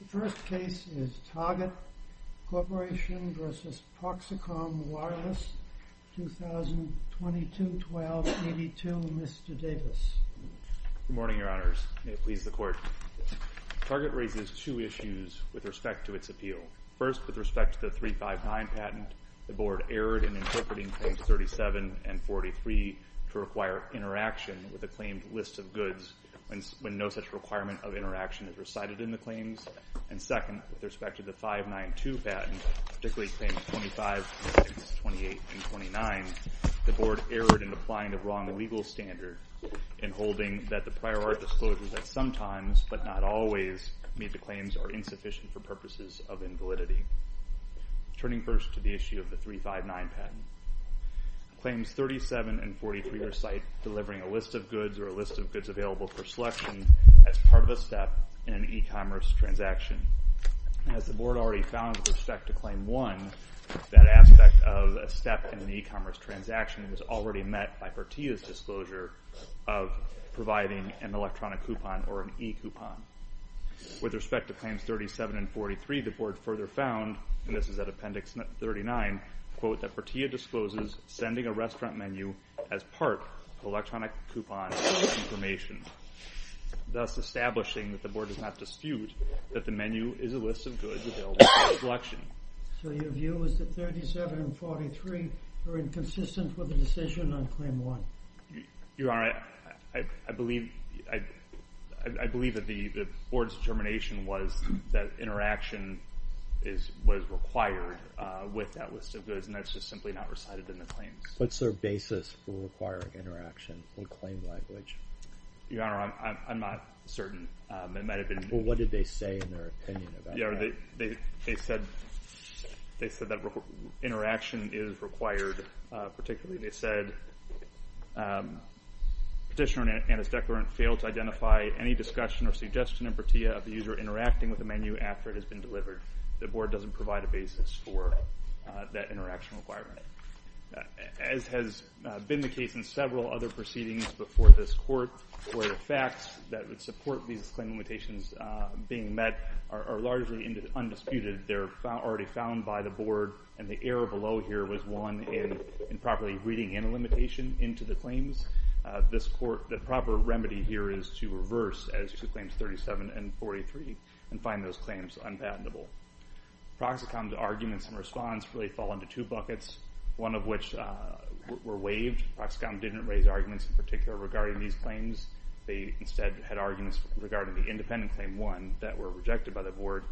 The first case is Target Corporation v. Proxicom Wireless, 2022-1282. Mr. Davis. Good morning, your honors. May it please the court. Target raises two issues with respect to its appeal. First, with respect to the 359 patent, the board erred in interpreting claims 37 and 43 to require interaction with a claimed list of goods when no such requirement of interaction is recited in the claims. And second, with respect to the 592 patent, particularly claims 25, 26, 28, and 29, the board erred in applying the wrong legal standard in holding that the prior art disclosures at some times, but not always, made the claims are insufficient for purposes of invalidity. Turning first to the issue of the 359 patent. Claims 37 and 43 recite delivering a list of goods or a list of goods available for selection as part of a step in an e-commerce transaction. As the board already found with respect to Claim 1, that aspect of a step in an e-commerce transaction was already met by Pertia's disclosure of providing an electronic coupon or an e-coupon. With respect to Claims 37 and 43, the board further found, and this is at Appendix 39, quote, that Pertia discloses sending a restaurant menu as part of electronic coupon information, thus establishing that the board does not dispute that the menu is a list of goods available for selection. So your view is that 37 and 43 are inconsistent with the decision on Claim 1? Your Honor, I believe that the board's determination was that interaction was required with that list of goods, and that's just simply not recited in the claims. What's their basis for requiring interaction in claim language? Your Honor, I'm not certain. It might have been— Well, what did they say in their opinion about that? Your Honor, they said that interaction is required particularly. They said, Petitioner and his declarant fail to identify any discussion or suggestion in Pertia of the user interacting with the menu after it has been delivered. The board doesn't provide a basis for that interaction requirement. As has been the case in several other proceedings before this Court, where the facts that would support these claim limitations being met are largely undisputed. They're already found by the board, and the error below here was one in improperly reading in a limitation into the claims. The proper remedy here is to reverse as to Claims 37 and 43 and find those claims unpatentable. Proxicom's arguments in response really fall into two buckets, one of which were waived. Proxicom didn't raise arguments in particular regarding these claims. They instead had arguments regarding the independent Claim 1 that were rejected by the board.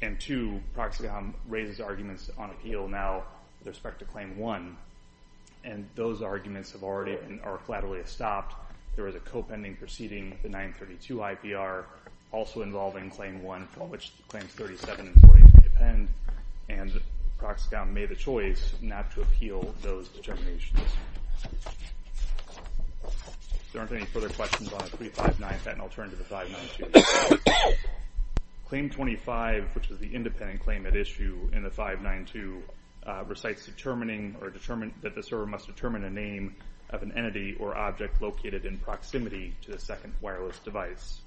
And two, Proxicom raises arguments on appeal now with respect to Claim 1, and those arguments are already flatly stopped. There is a co-pending proceeding, the 932 IPR, also involving Claim 1, which Claims 37 and 40 depend, and Proxicom made a choice not to appeal those determinations. If there aren't any further questions on 359, then I'll turn to the 592. Claim 25, which is the independent claim at issue in the 592, recites determining that the server must determine a name of an entity or object located in proximity to the second wireless device.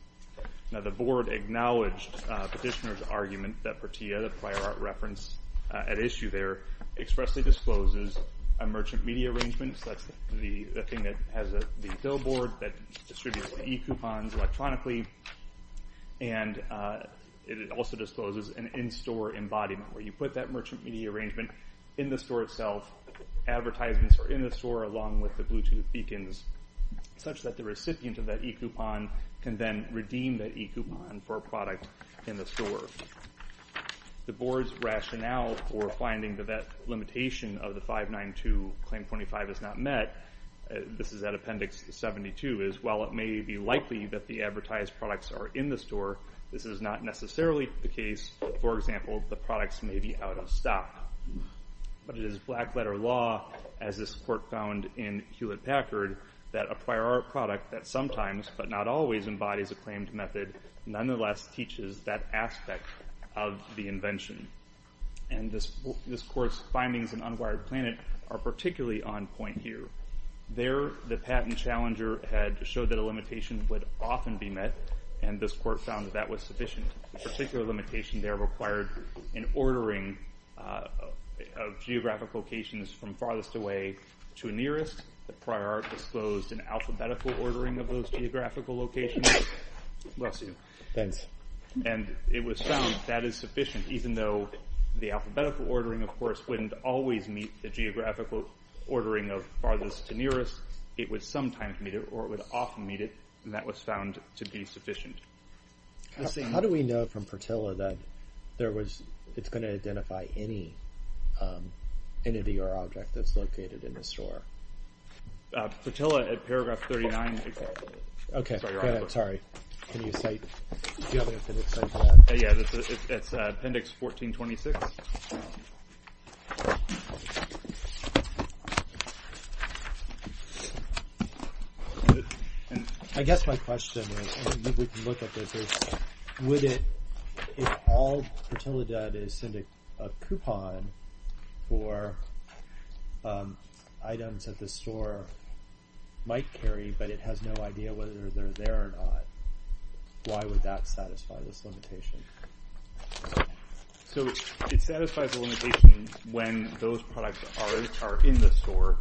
Now, the board acknowledged Petitioner's argument that Portilla, the prior art reference at issue there, expressly discloses a merchant media arrangement, so that's the thing that has the billboard that distributes e-coupons electronically, and it also discloses an in-store embodiment, where you put that merchant media arrangement in the store itself, advertisements are in the store along with the Bluetooth beacons, such that the recipient of that e-coupon can then redeem that e-coupon for a product in the store. The board's rationale for finding that that limitation of the 592 Claim 25 is not met, this is at Appendix 72, is while it may be likely that the advertised products are in the store, this is not necessarily the case. For example, the products may be out of stock. But it is black-letter law, as this court found in Hewlett-Packard, that a prior art product that sometimes, but not always, embodies a claimed method nonetheless teaches that aspect of the invention. And this court's findings in Unwired Planet are particularly on point here. There, the patent challenger had showed that a limitation would often be met, and this court found that that was sufficient. That particular limitation there required an ordering of geographic locations from farthest away to nearest. The prior art disclosed an alphabetical ordering of those geographical locations. Bless you. Thanks. And it was found that is sufficient, even though the alphabetical ordering, of course, wouldn't always meet the geographical ordering of farthest to nearest. It would sometimes meet it, or it would often meet it, and that was found to be sufficient. How do we know from Pertilla that it's going to identify any entity or object that's located in the store? Pertilla, at paragraph 39. Okay. Sorry. Can you cite the other appendix? Yeah, it's appendix 1426. I guess my question is, and we can look at this, is would it, if all Pertilla does is send a coupon for items that the store might carry, but it has no idea whether they're there or not, why would that satisfy this limitation? So it satisfies the limitation when those products are in the store,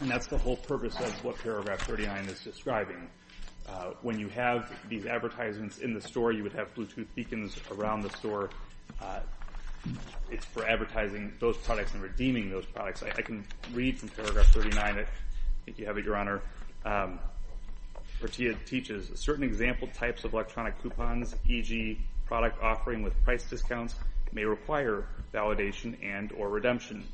and that's the whole purpose of what paragraph 39 is describing. When you have these advertisements in the store, you would have Bluetooth beacons around the store. It's for advertising those products and redeeming those products. I can read from paragraph 39. I think you have it, Your Honor. Pertilla teaches, certain example types of electronic coupons, e.g., product offering with price discounts, may require validation and or redemption.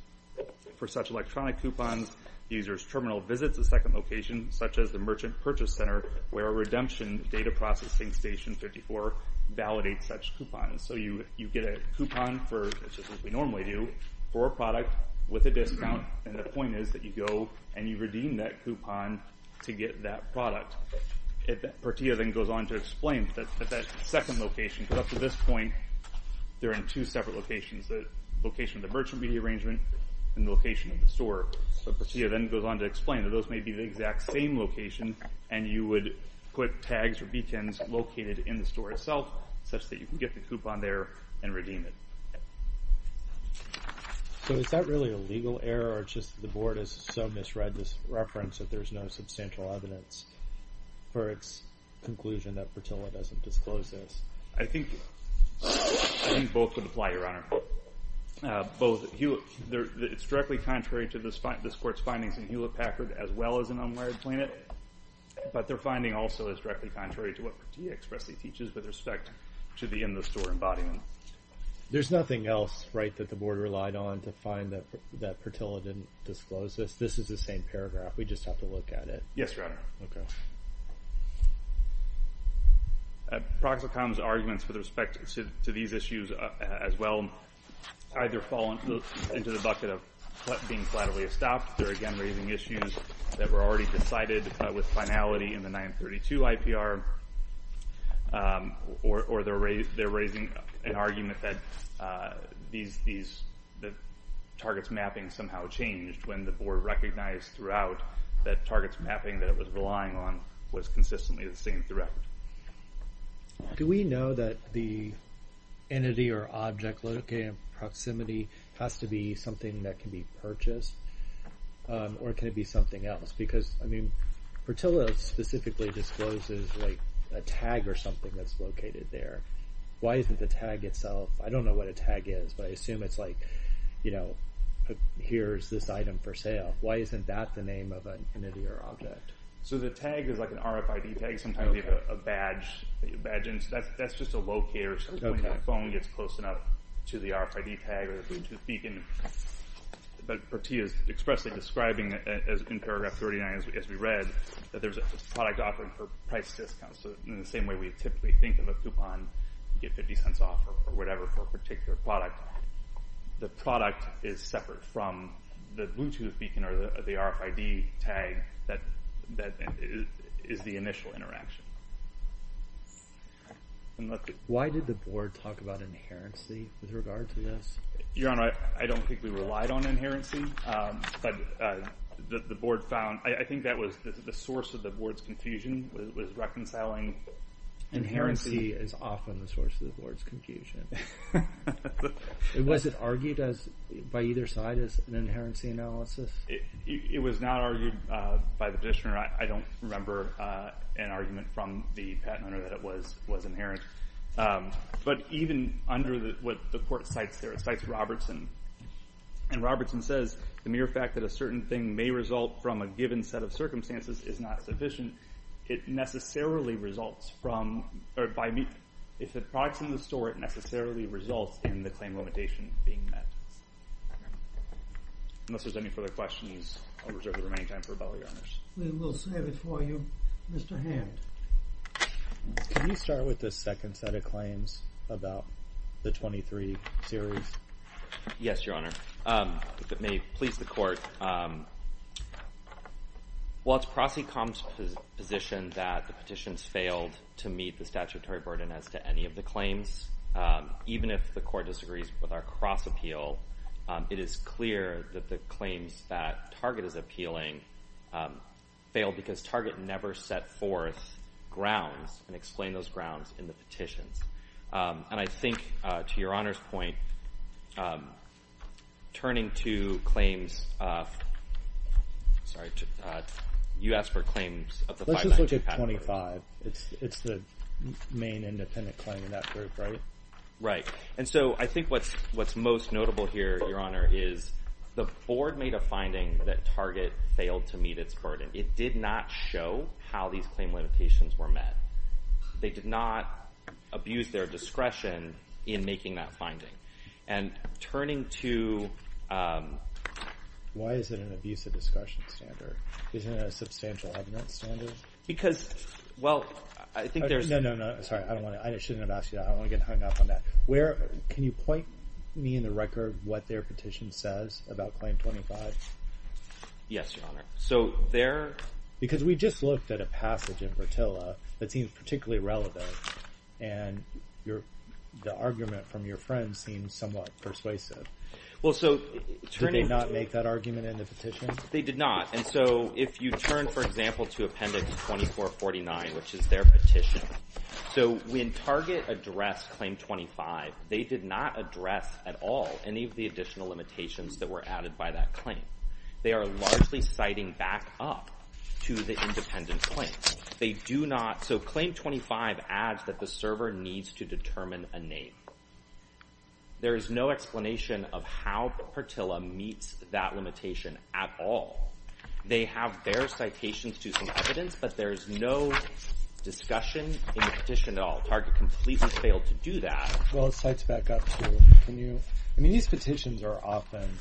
For such electronic coupons, the user's terminal visits a second location, such as the Merchant Purchase Center, where a redemption data processing station, 54, validates such coupons. So you get a coupon, just as we normally do, for a product with a discount, and the point is that you go and you redeem that coupon to get that product. Pertilla then goes on to explain that that second location, because up to this point, they're in two separate locations, the location of the merchant media arrangement and the location of the store. So Pertilla then goes on to explain that those may be the exact same location, and you would put tags or beacons located in the store itself, such that you can get the coupon there and redeem it. So is that really a legal error, or just the Board has so misread this reference that there's no substantial evidence for its conclusion that Pertilla doesn't disclose this? I think both would apply, Your Honor. It's directly contrary to this Court's findings in Hewlett-Packard, as well as in Unwired Planet, but their finding also is directly contrary to what Pertilla expressly teaches with respect to the in-the-store embodiment. There's nothing else, right, that the Board relied on to find that Pertilla didn't disclose this? This is the same paragraph. We just have to look at it. Yes, Your Honor. Okay. Proxacom's arguments with respect to these issues, as well, either fall into the bucket of being flatly estopped, they're again raising issues that were already decided with finality in the 932 IPR, or they're raising an argument that the target's mapping somehow changed when the Board recognized throughout that target's mapping that it was relying on was consistently the same threat. Do we know that the entity or object located in proximity has to be something that can be purchased, or can it be something else? Because, I mean, Pertilla specifically discloses a tag or something that's located there. Why isn't the tag itself? I don't know what a tag is, but I assume it's like, you know, here's this item for sale. Why isn't that the name of an entity or object? So the tag is like an RFID tag. Sometimes we have a badge. That's just a locator. When that phone gets close enough to the RFID tag, but Pertilla is expressly describing in paragraph 39, as we read, that there's a product offering for price discounts. So in the same way we typically think of a coupon, you get $0.50 off or whatever for a particular product, the product is separate from the Bluetooth beacon or the RFID tag that is the initial interaction. Why did the Board talk about inherency with regard to this? Your Honor, I don't think we relied on inherency, but the Board found, I think that was the source of the Board's confusion was reconciling. Inherency is often the source of the Board's confusion. Was it argued by either side as an inherency analysis? It was not argued by the petitioner. I don't remember an argument from the patent owner that it was inherent. But even under what the Court cites there, it cites Robertson, and Robertson says, the mere fact that a certain thing may result from a given set of circumstances is not sufficient. It necessarily results from, if the product's in the store, it necessarily results in the claim limitation being met. Unless there's any further questions, I'll reserve the remaining time for rebuttal, Your Honors. We will save it for you. Mr. Hand. Can you start with the second set of claims about the 23 series? Yes, Your Honor. If it may please the Court, while it's Crossy Combs' position that the petitions failed to meet the statutory burden as to any of the claims, even if the Court disagrees with our cross appeal, it is clear that the claims that Target is appealing failed because Target never set forth grounds and explained those grounds in the petitions. And I think, to Your Honor's point, turning to claims of, sorry, you asked for claims of the 590 patent. Let's just look at 25. It's the main independent claim in that group, right? Right. And so I think what's most notable here, Your Honor, is the Board made a finding that Target failed to meet its burden. It did not show how these claim limitations were met. They did not abuse their discretion in making that finding. And turning to- Why is it an abusive discussion standard? Isn't it a substantial evidence standard? Because, well, I think there's- No, no, no, sorry. I shouldn't have asked you that. I don't want to get hung up on that. Can you point me in the record what their petition says about claim 25? Yes, Your Honor. So their- Because we just looked at a passage in Bertilla that seems particularly relevant, and the argument from your friend seems somewhat persuasive. Well, so- Did they not make that argument in the petition? They did not. And so if you turn, for example, to Appendix 2449, which is their petition, so when Target addressed Claim 25, they did not address at all any of the additional limitations that were added by that claim. They are largely citing back up to the independent claim. They do not- So Claim 25 adds that the server needs to determine a name. There is no explanation of how Bertilla meets that limitation at all. They have their citations to some evidence, but there is no discussion in the petition at all. Target completely failed to do that. Well, it cites back up to- Can you- I mean, these petitions are often,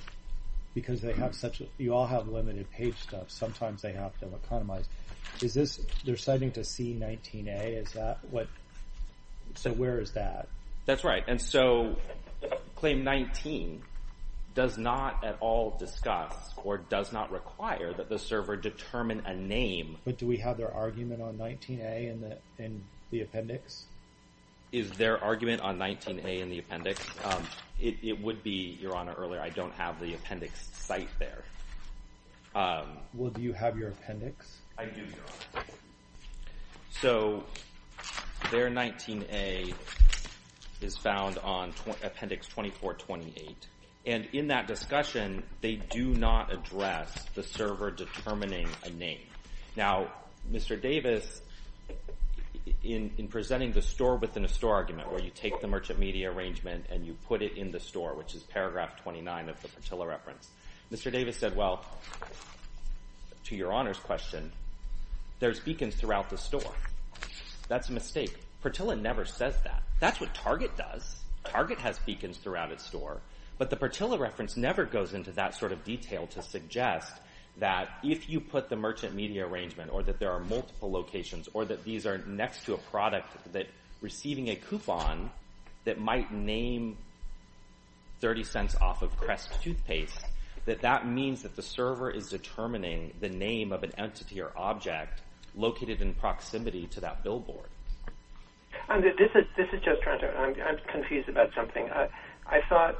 because they have such- You all have limited page stuff. Sometimes they have them economized. Is this- They're citing to C19A. Is that what- So where is that? That's right. And so Claim 19 does not at all discuss or does not require that the server determine a name. But do we have their argument on 19A in the appendix? Is their argument on 19A in the appendix? It would be, Your Honor, earlier. I don't have the appendix cited there. Well, do you have your appendix? I do, Your Honor. So their 19A is found on appendix 2428. And in that discussion, they do not address the server determining a name. Now, Mr. Davis, in presenting the store-within-a-store argument, where you take the merchant media arrangement and you put it in the store, which is paragraph 29 of the Bertilla reference, Mr. Davis said, well, to Your Honor's question, there's beacons throughout the store. That's a mistake. Bertilla never says that. That's what Target does. Target has beacons throughout its store. But the Bertilla reference never goes into that sort of detail to suggest that if you put the merchant media arrangement or that there are multiple locations or that these are next to a product that's receiving a coupon that might name 30 cents off of Crest Toothpaste, that that means that the server is determining the name of an entity or object located in proximity to that billboard. This is Joe Toronto. I'm confused about something. I thought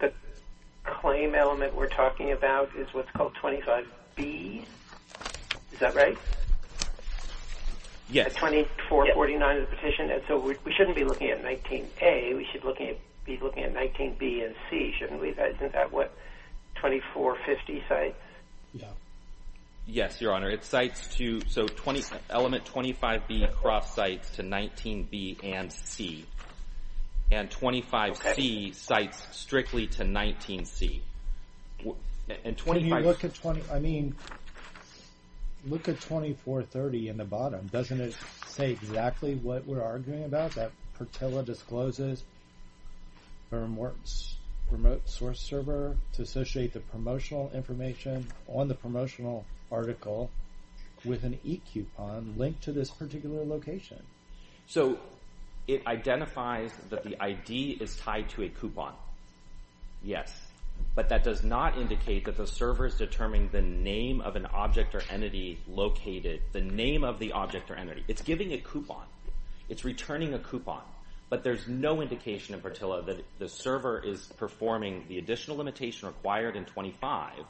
the claim element we're talking about is what's called 25B. Is that right? Yes. 2449 of the petition. And so we shouldn't be looking at 19A. We should be looking at 19B and C, shouldn't we? Isn't that what 2450 cites? Yes, Your Honor. So element 25B cross-cites to 19B and C. And 25C cites strictly to 19C. I mean, look at 2430 in the bottom. Doesn't it say exactly what we're arguing about, that Bertilla discloses a remote source server to associate the promotional information on the promotional article with an e-coupon linked to this particular location? So it identifies that the ID is tied to a coupon. Yes. But that does not indicate that the server is determining the name of an object or entity located – the name of the object or entity. It's giving a coupon. It's returning a coupon. But there's no indication in Bertilla that the server is performing the additional limitation required in 25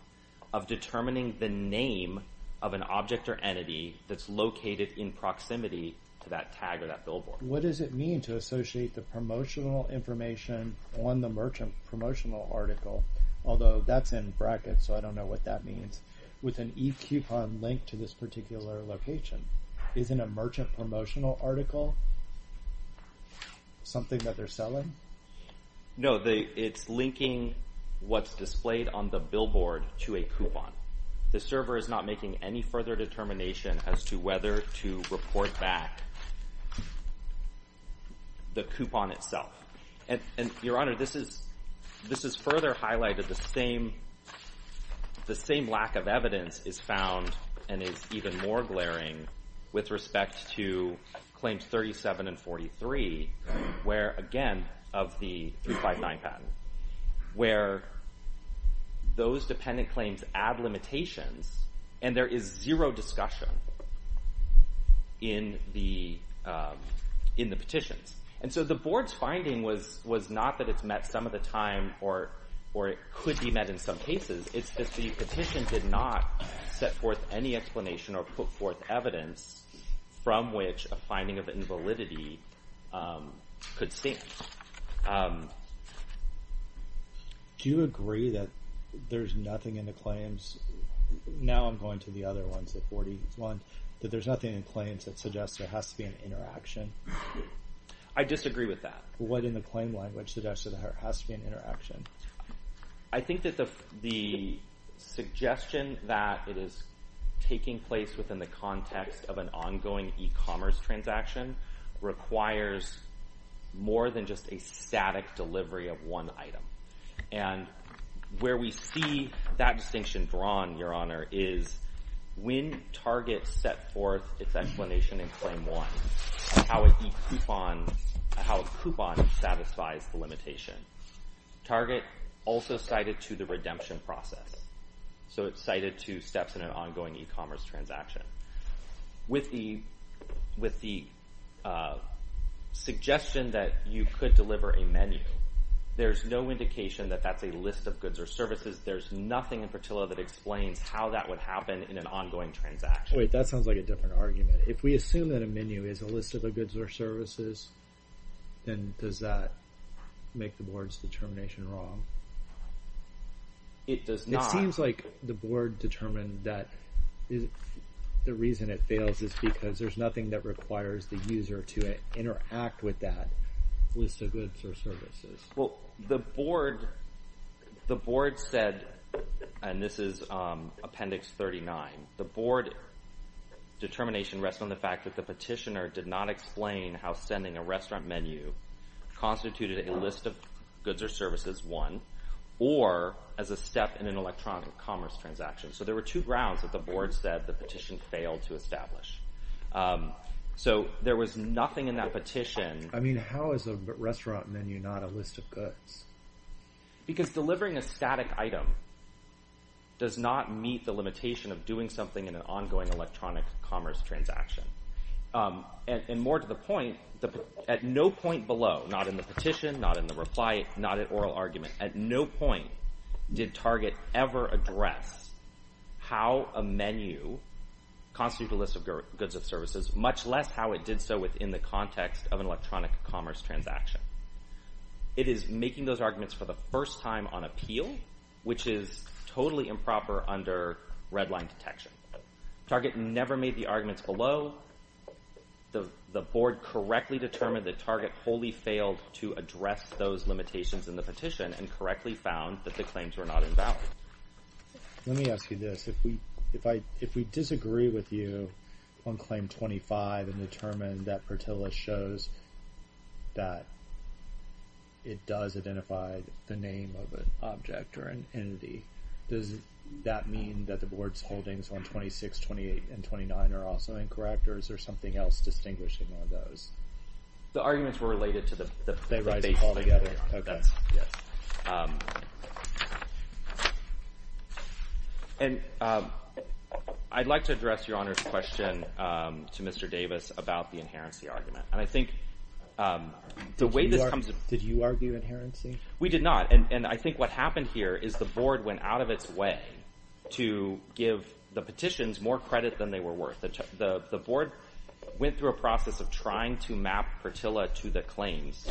of determining the name of an object or entity that's located in proximity to that tag or that billboard. What does it mean to associate the promotional information on the merchant promotional article – although that's in brackets, so I don't know what that means – with an e-coupon linked to this particular location? Isn't a merchant promotional article something that they're selling? No, it's linking what's displayed on the billboard to a coupon. The server is not making any further determination as to whether to report back the coupon itself. Your Honor, this is further highlighted. The same lack of evidence is found and is even more glaring with respect to Claims 37 and 43 where, again, of the 359 patent, where those dependent claims add limitations and there is zero discussion in the petitions. And so the Board's finding was not that it's met some of the time or it could be met in some cases. It's that the petition did not set forth any explanation or put forth evidence from which a finding of invalidity could stand. Do you agree that there's nothing in the claims – now I'm going to the other ones, the 41 – that there's nothing in the claims that suggests there has to be an interaction? I disagree with that. What in the claim language suggests that there has to be an interaction? I think that the suggestion that it is taking place within the context of an ongoing e-commerce transaction requires more than just a static delivery of one item. And where we see that distinction drawn, Your Honor, is when Target set forth its explanation in Claim 1, how a coupon satisfies the limitation. Target also cited to the redemption process. So it's cited to steps in an ongoing e-commerce transaction. With the suggestion that you could deliver a menu, there's no indication that that's a list of goods or services. There's nothing in Pertillo that explains how that would happen in an ongoing transaction. Wait, that sounds like a different argument. If we assume that a menu is a list of goods or services, then does that make the Board's determination wrong? It does not. It seems like the Board determined that the reason it fails is because there's nothing that requires the user to interact with that list of goods or services. Well, the Board said, and this is Appendix 39, the Board determination rests on the fact that the petitioner did not explain how sending a restaurant menu constituted a list of goods or services, one, or as a step in an electronic commerce transaction. So there were two grounds that the Board said the petition failed to establish. So there was nothing in that petition. I mean, how is a restaurant menu not a list of goods? Because delivering a static item does not meet the limitation of doing something in an ongoing electronic commerce transaction. And more to the point, at no point below, not in the petition, not in the reply, not in oral argument, at no point did Target ever address how a menu constituted a list of goods or services, much less how it did so within the context of an electronic commerce transaction. It is making those arguments for the first time on appeal, which is totally improper under redline detection. Target never made the arguments below. The Board correctly determined that Target wholly failed to address those limitations in the petition and correctly found that the claims were not invalid. Let me ask you this. If we disagree with you on Claim 25 and determine that Pertilla shows that it does identify the name of an object or an entity, does that mean that the Board's holdings on 26, 28, and 29 are also incorrect? Or is there something else distinguishing on those? The arguments were related to the… Okay. And I'd like to address Your Honor's question to Mr. Davis about the inherency argument. And I think the way this comes… Did you argue inherency? We did not. And I think what happened here is the Board went out of its way to give the petitions more credit than they were worth. The Board went through a process of trying to map Pertilla to the claims,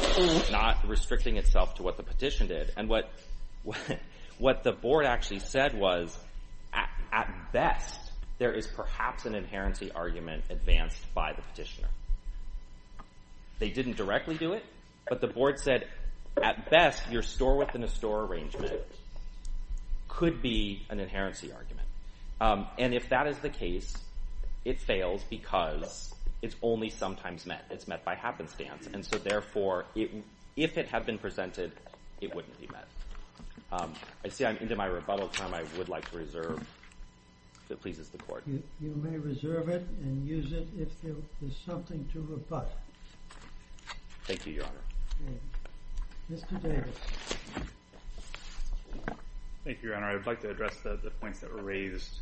not restricting itself to what the petition did. And what the Board actually said was, at best, there is perhaps an inherency argument advanced by the petitioner. They didn't directly do it, but the Board said, at best, your store-within-a-store arrangement could be an inherency argument. And if that is the case, it fails because it's only sometimes met. It's met by happenstance. And so, therefore, if it had been presented, it wouldn't be met. I see I'm into my rebuttal time. I would like to reserve if it pleases the Court. You may reserve it and use it if there's something to rebut. Thank you, Your Honor. Mr. Davis. Thank you, Your Honor. I would like to address the points that were raised,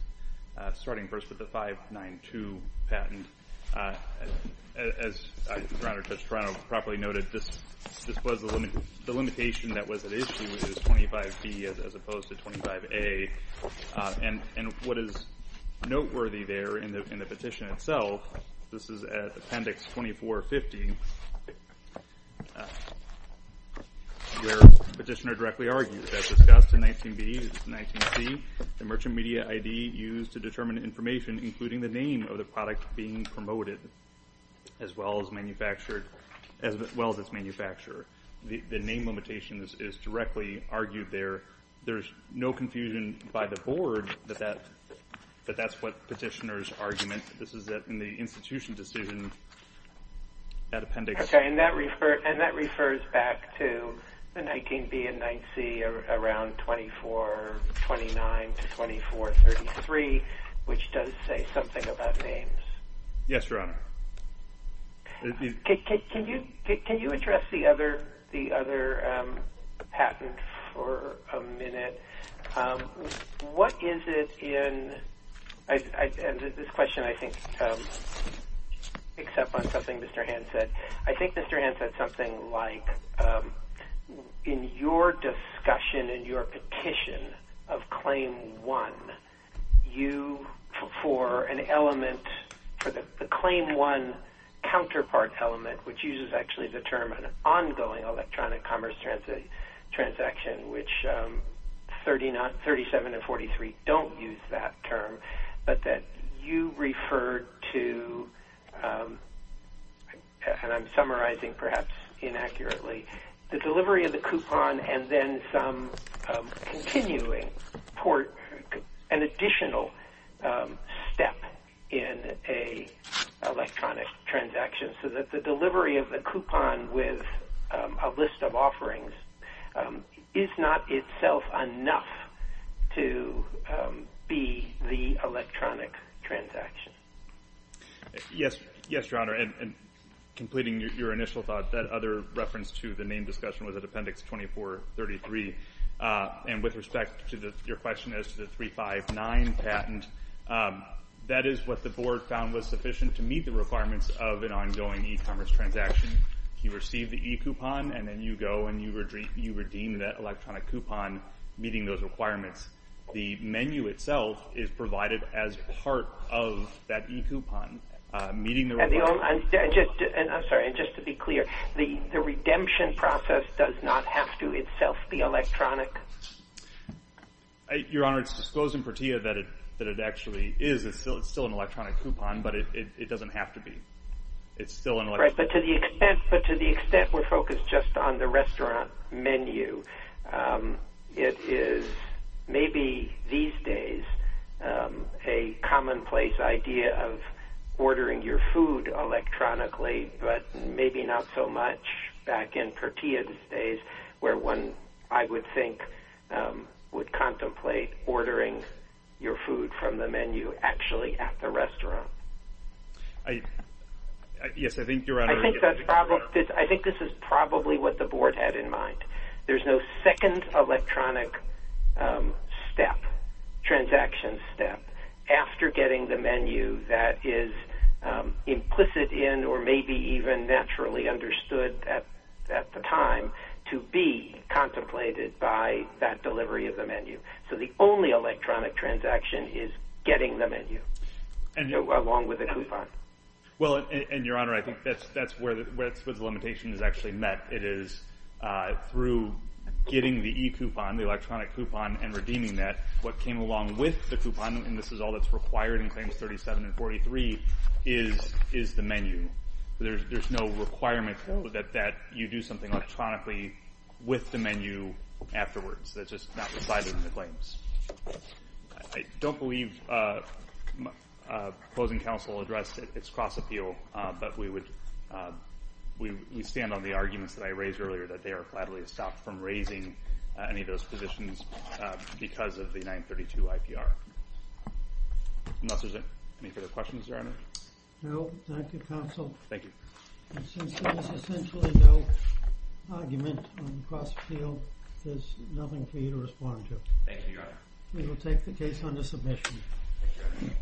starting first with the 592 patent. As Your Honor, Judge Toronto properly noted, this was the limitation that was at issue, which was 25B as opposed to 25A. And what is noteworthy there in the petition itself, this is at Appendix 2450, where the petitioner directly argued, as discussed in 19B and 19C, the Merchant Media ID used to determine information, including the name of the product being promoted, as well as its manufacturer. The name limitation is directly argued there. There's no confusion by the Board that that's what petitioner's argument. This is in the institution decision at Appendix. And that refers back to the 19B and 19C around 2429 to 2433, which does say something about names. Yes, Your Honor. Can you address the other patent for a minute? What is it in – and this question, I think, picks up on something Mr. Hand said. I think Mr. Hand said something like, in your discussion, in your petition of Claim 1, you, for an element, for the Claim 1 counterpart element, which uses actually the term an ongoing electronic commerce transaction, which 37 and 43 don't use that term, but that you referred to, and I'm summarizing perhaps inaccurately, the delivery of the coupon and then some continuing port, an additional step in an electronic transaction, so that the delivery of the coupon with a list of offerings is not itself enough to be the electronic transaction. Yes, Your Honor. And completing your initial thought, that other reference to the name discussion was at Appendix 2433. And with respect to your question as to the 359 patent, that is what the Board found was sufficient to meet the requirements of an ongoing e-commerce transaction. You receive the e-coupon, and then you go and you redeem that electronic coupon, meeting those requirements. The menu itself is provided as part of that e-coupon. And just to be clear, the redemption process does not have to itself be electronic? Your Honor, it's disclosed in PERTIA that it actually is. It's still an electronic coupon, but it doesn't have to be. Right, but to the extent we're focused just on the restaurant menu, it is maybe these days a commonplace idea of ordering your food electronically, but maybe not so much back in PERTIA's days where one, I would think, would contemplate ordering your food from the menu actually at the restaurant. Yes, I think Your Honor. I think this is probably what the Board had in mind. There's no second electronic step, transaction step, after getting the menu that is implicit in or maybe even naturally understood at the time to be contemplated by that delivery of the menu. So the only electronic transaction is getting the menu along with the coupon. Well, and Your Honor, I think that's where the limitation is actually met. It is through getting the e-coupon, the electronic coupon, and redeeming that. What came along with the coupon, and this is all that's required in Claims 37 and 43, is the menu. There's no requirement that you do something electronically with the menu afterwards. That's just not provided in the claims. I don't believe opposing counsel addressed its cross-appeal, but we stand on the arguments that I raised earlier, that they are gladly stopped from raising any of those positions because of the 932 IPR. Unless there's any further questions, Your Honor? No, thank you, Counsel. Thank you. Since there is essentially no argument on the cross-appeal, there's nothing for you to respond to. Thank you, Your Honor. Thank you, Your Honor.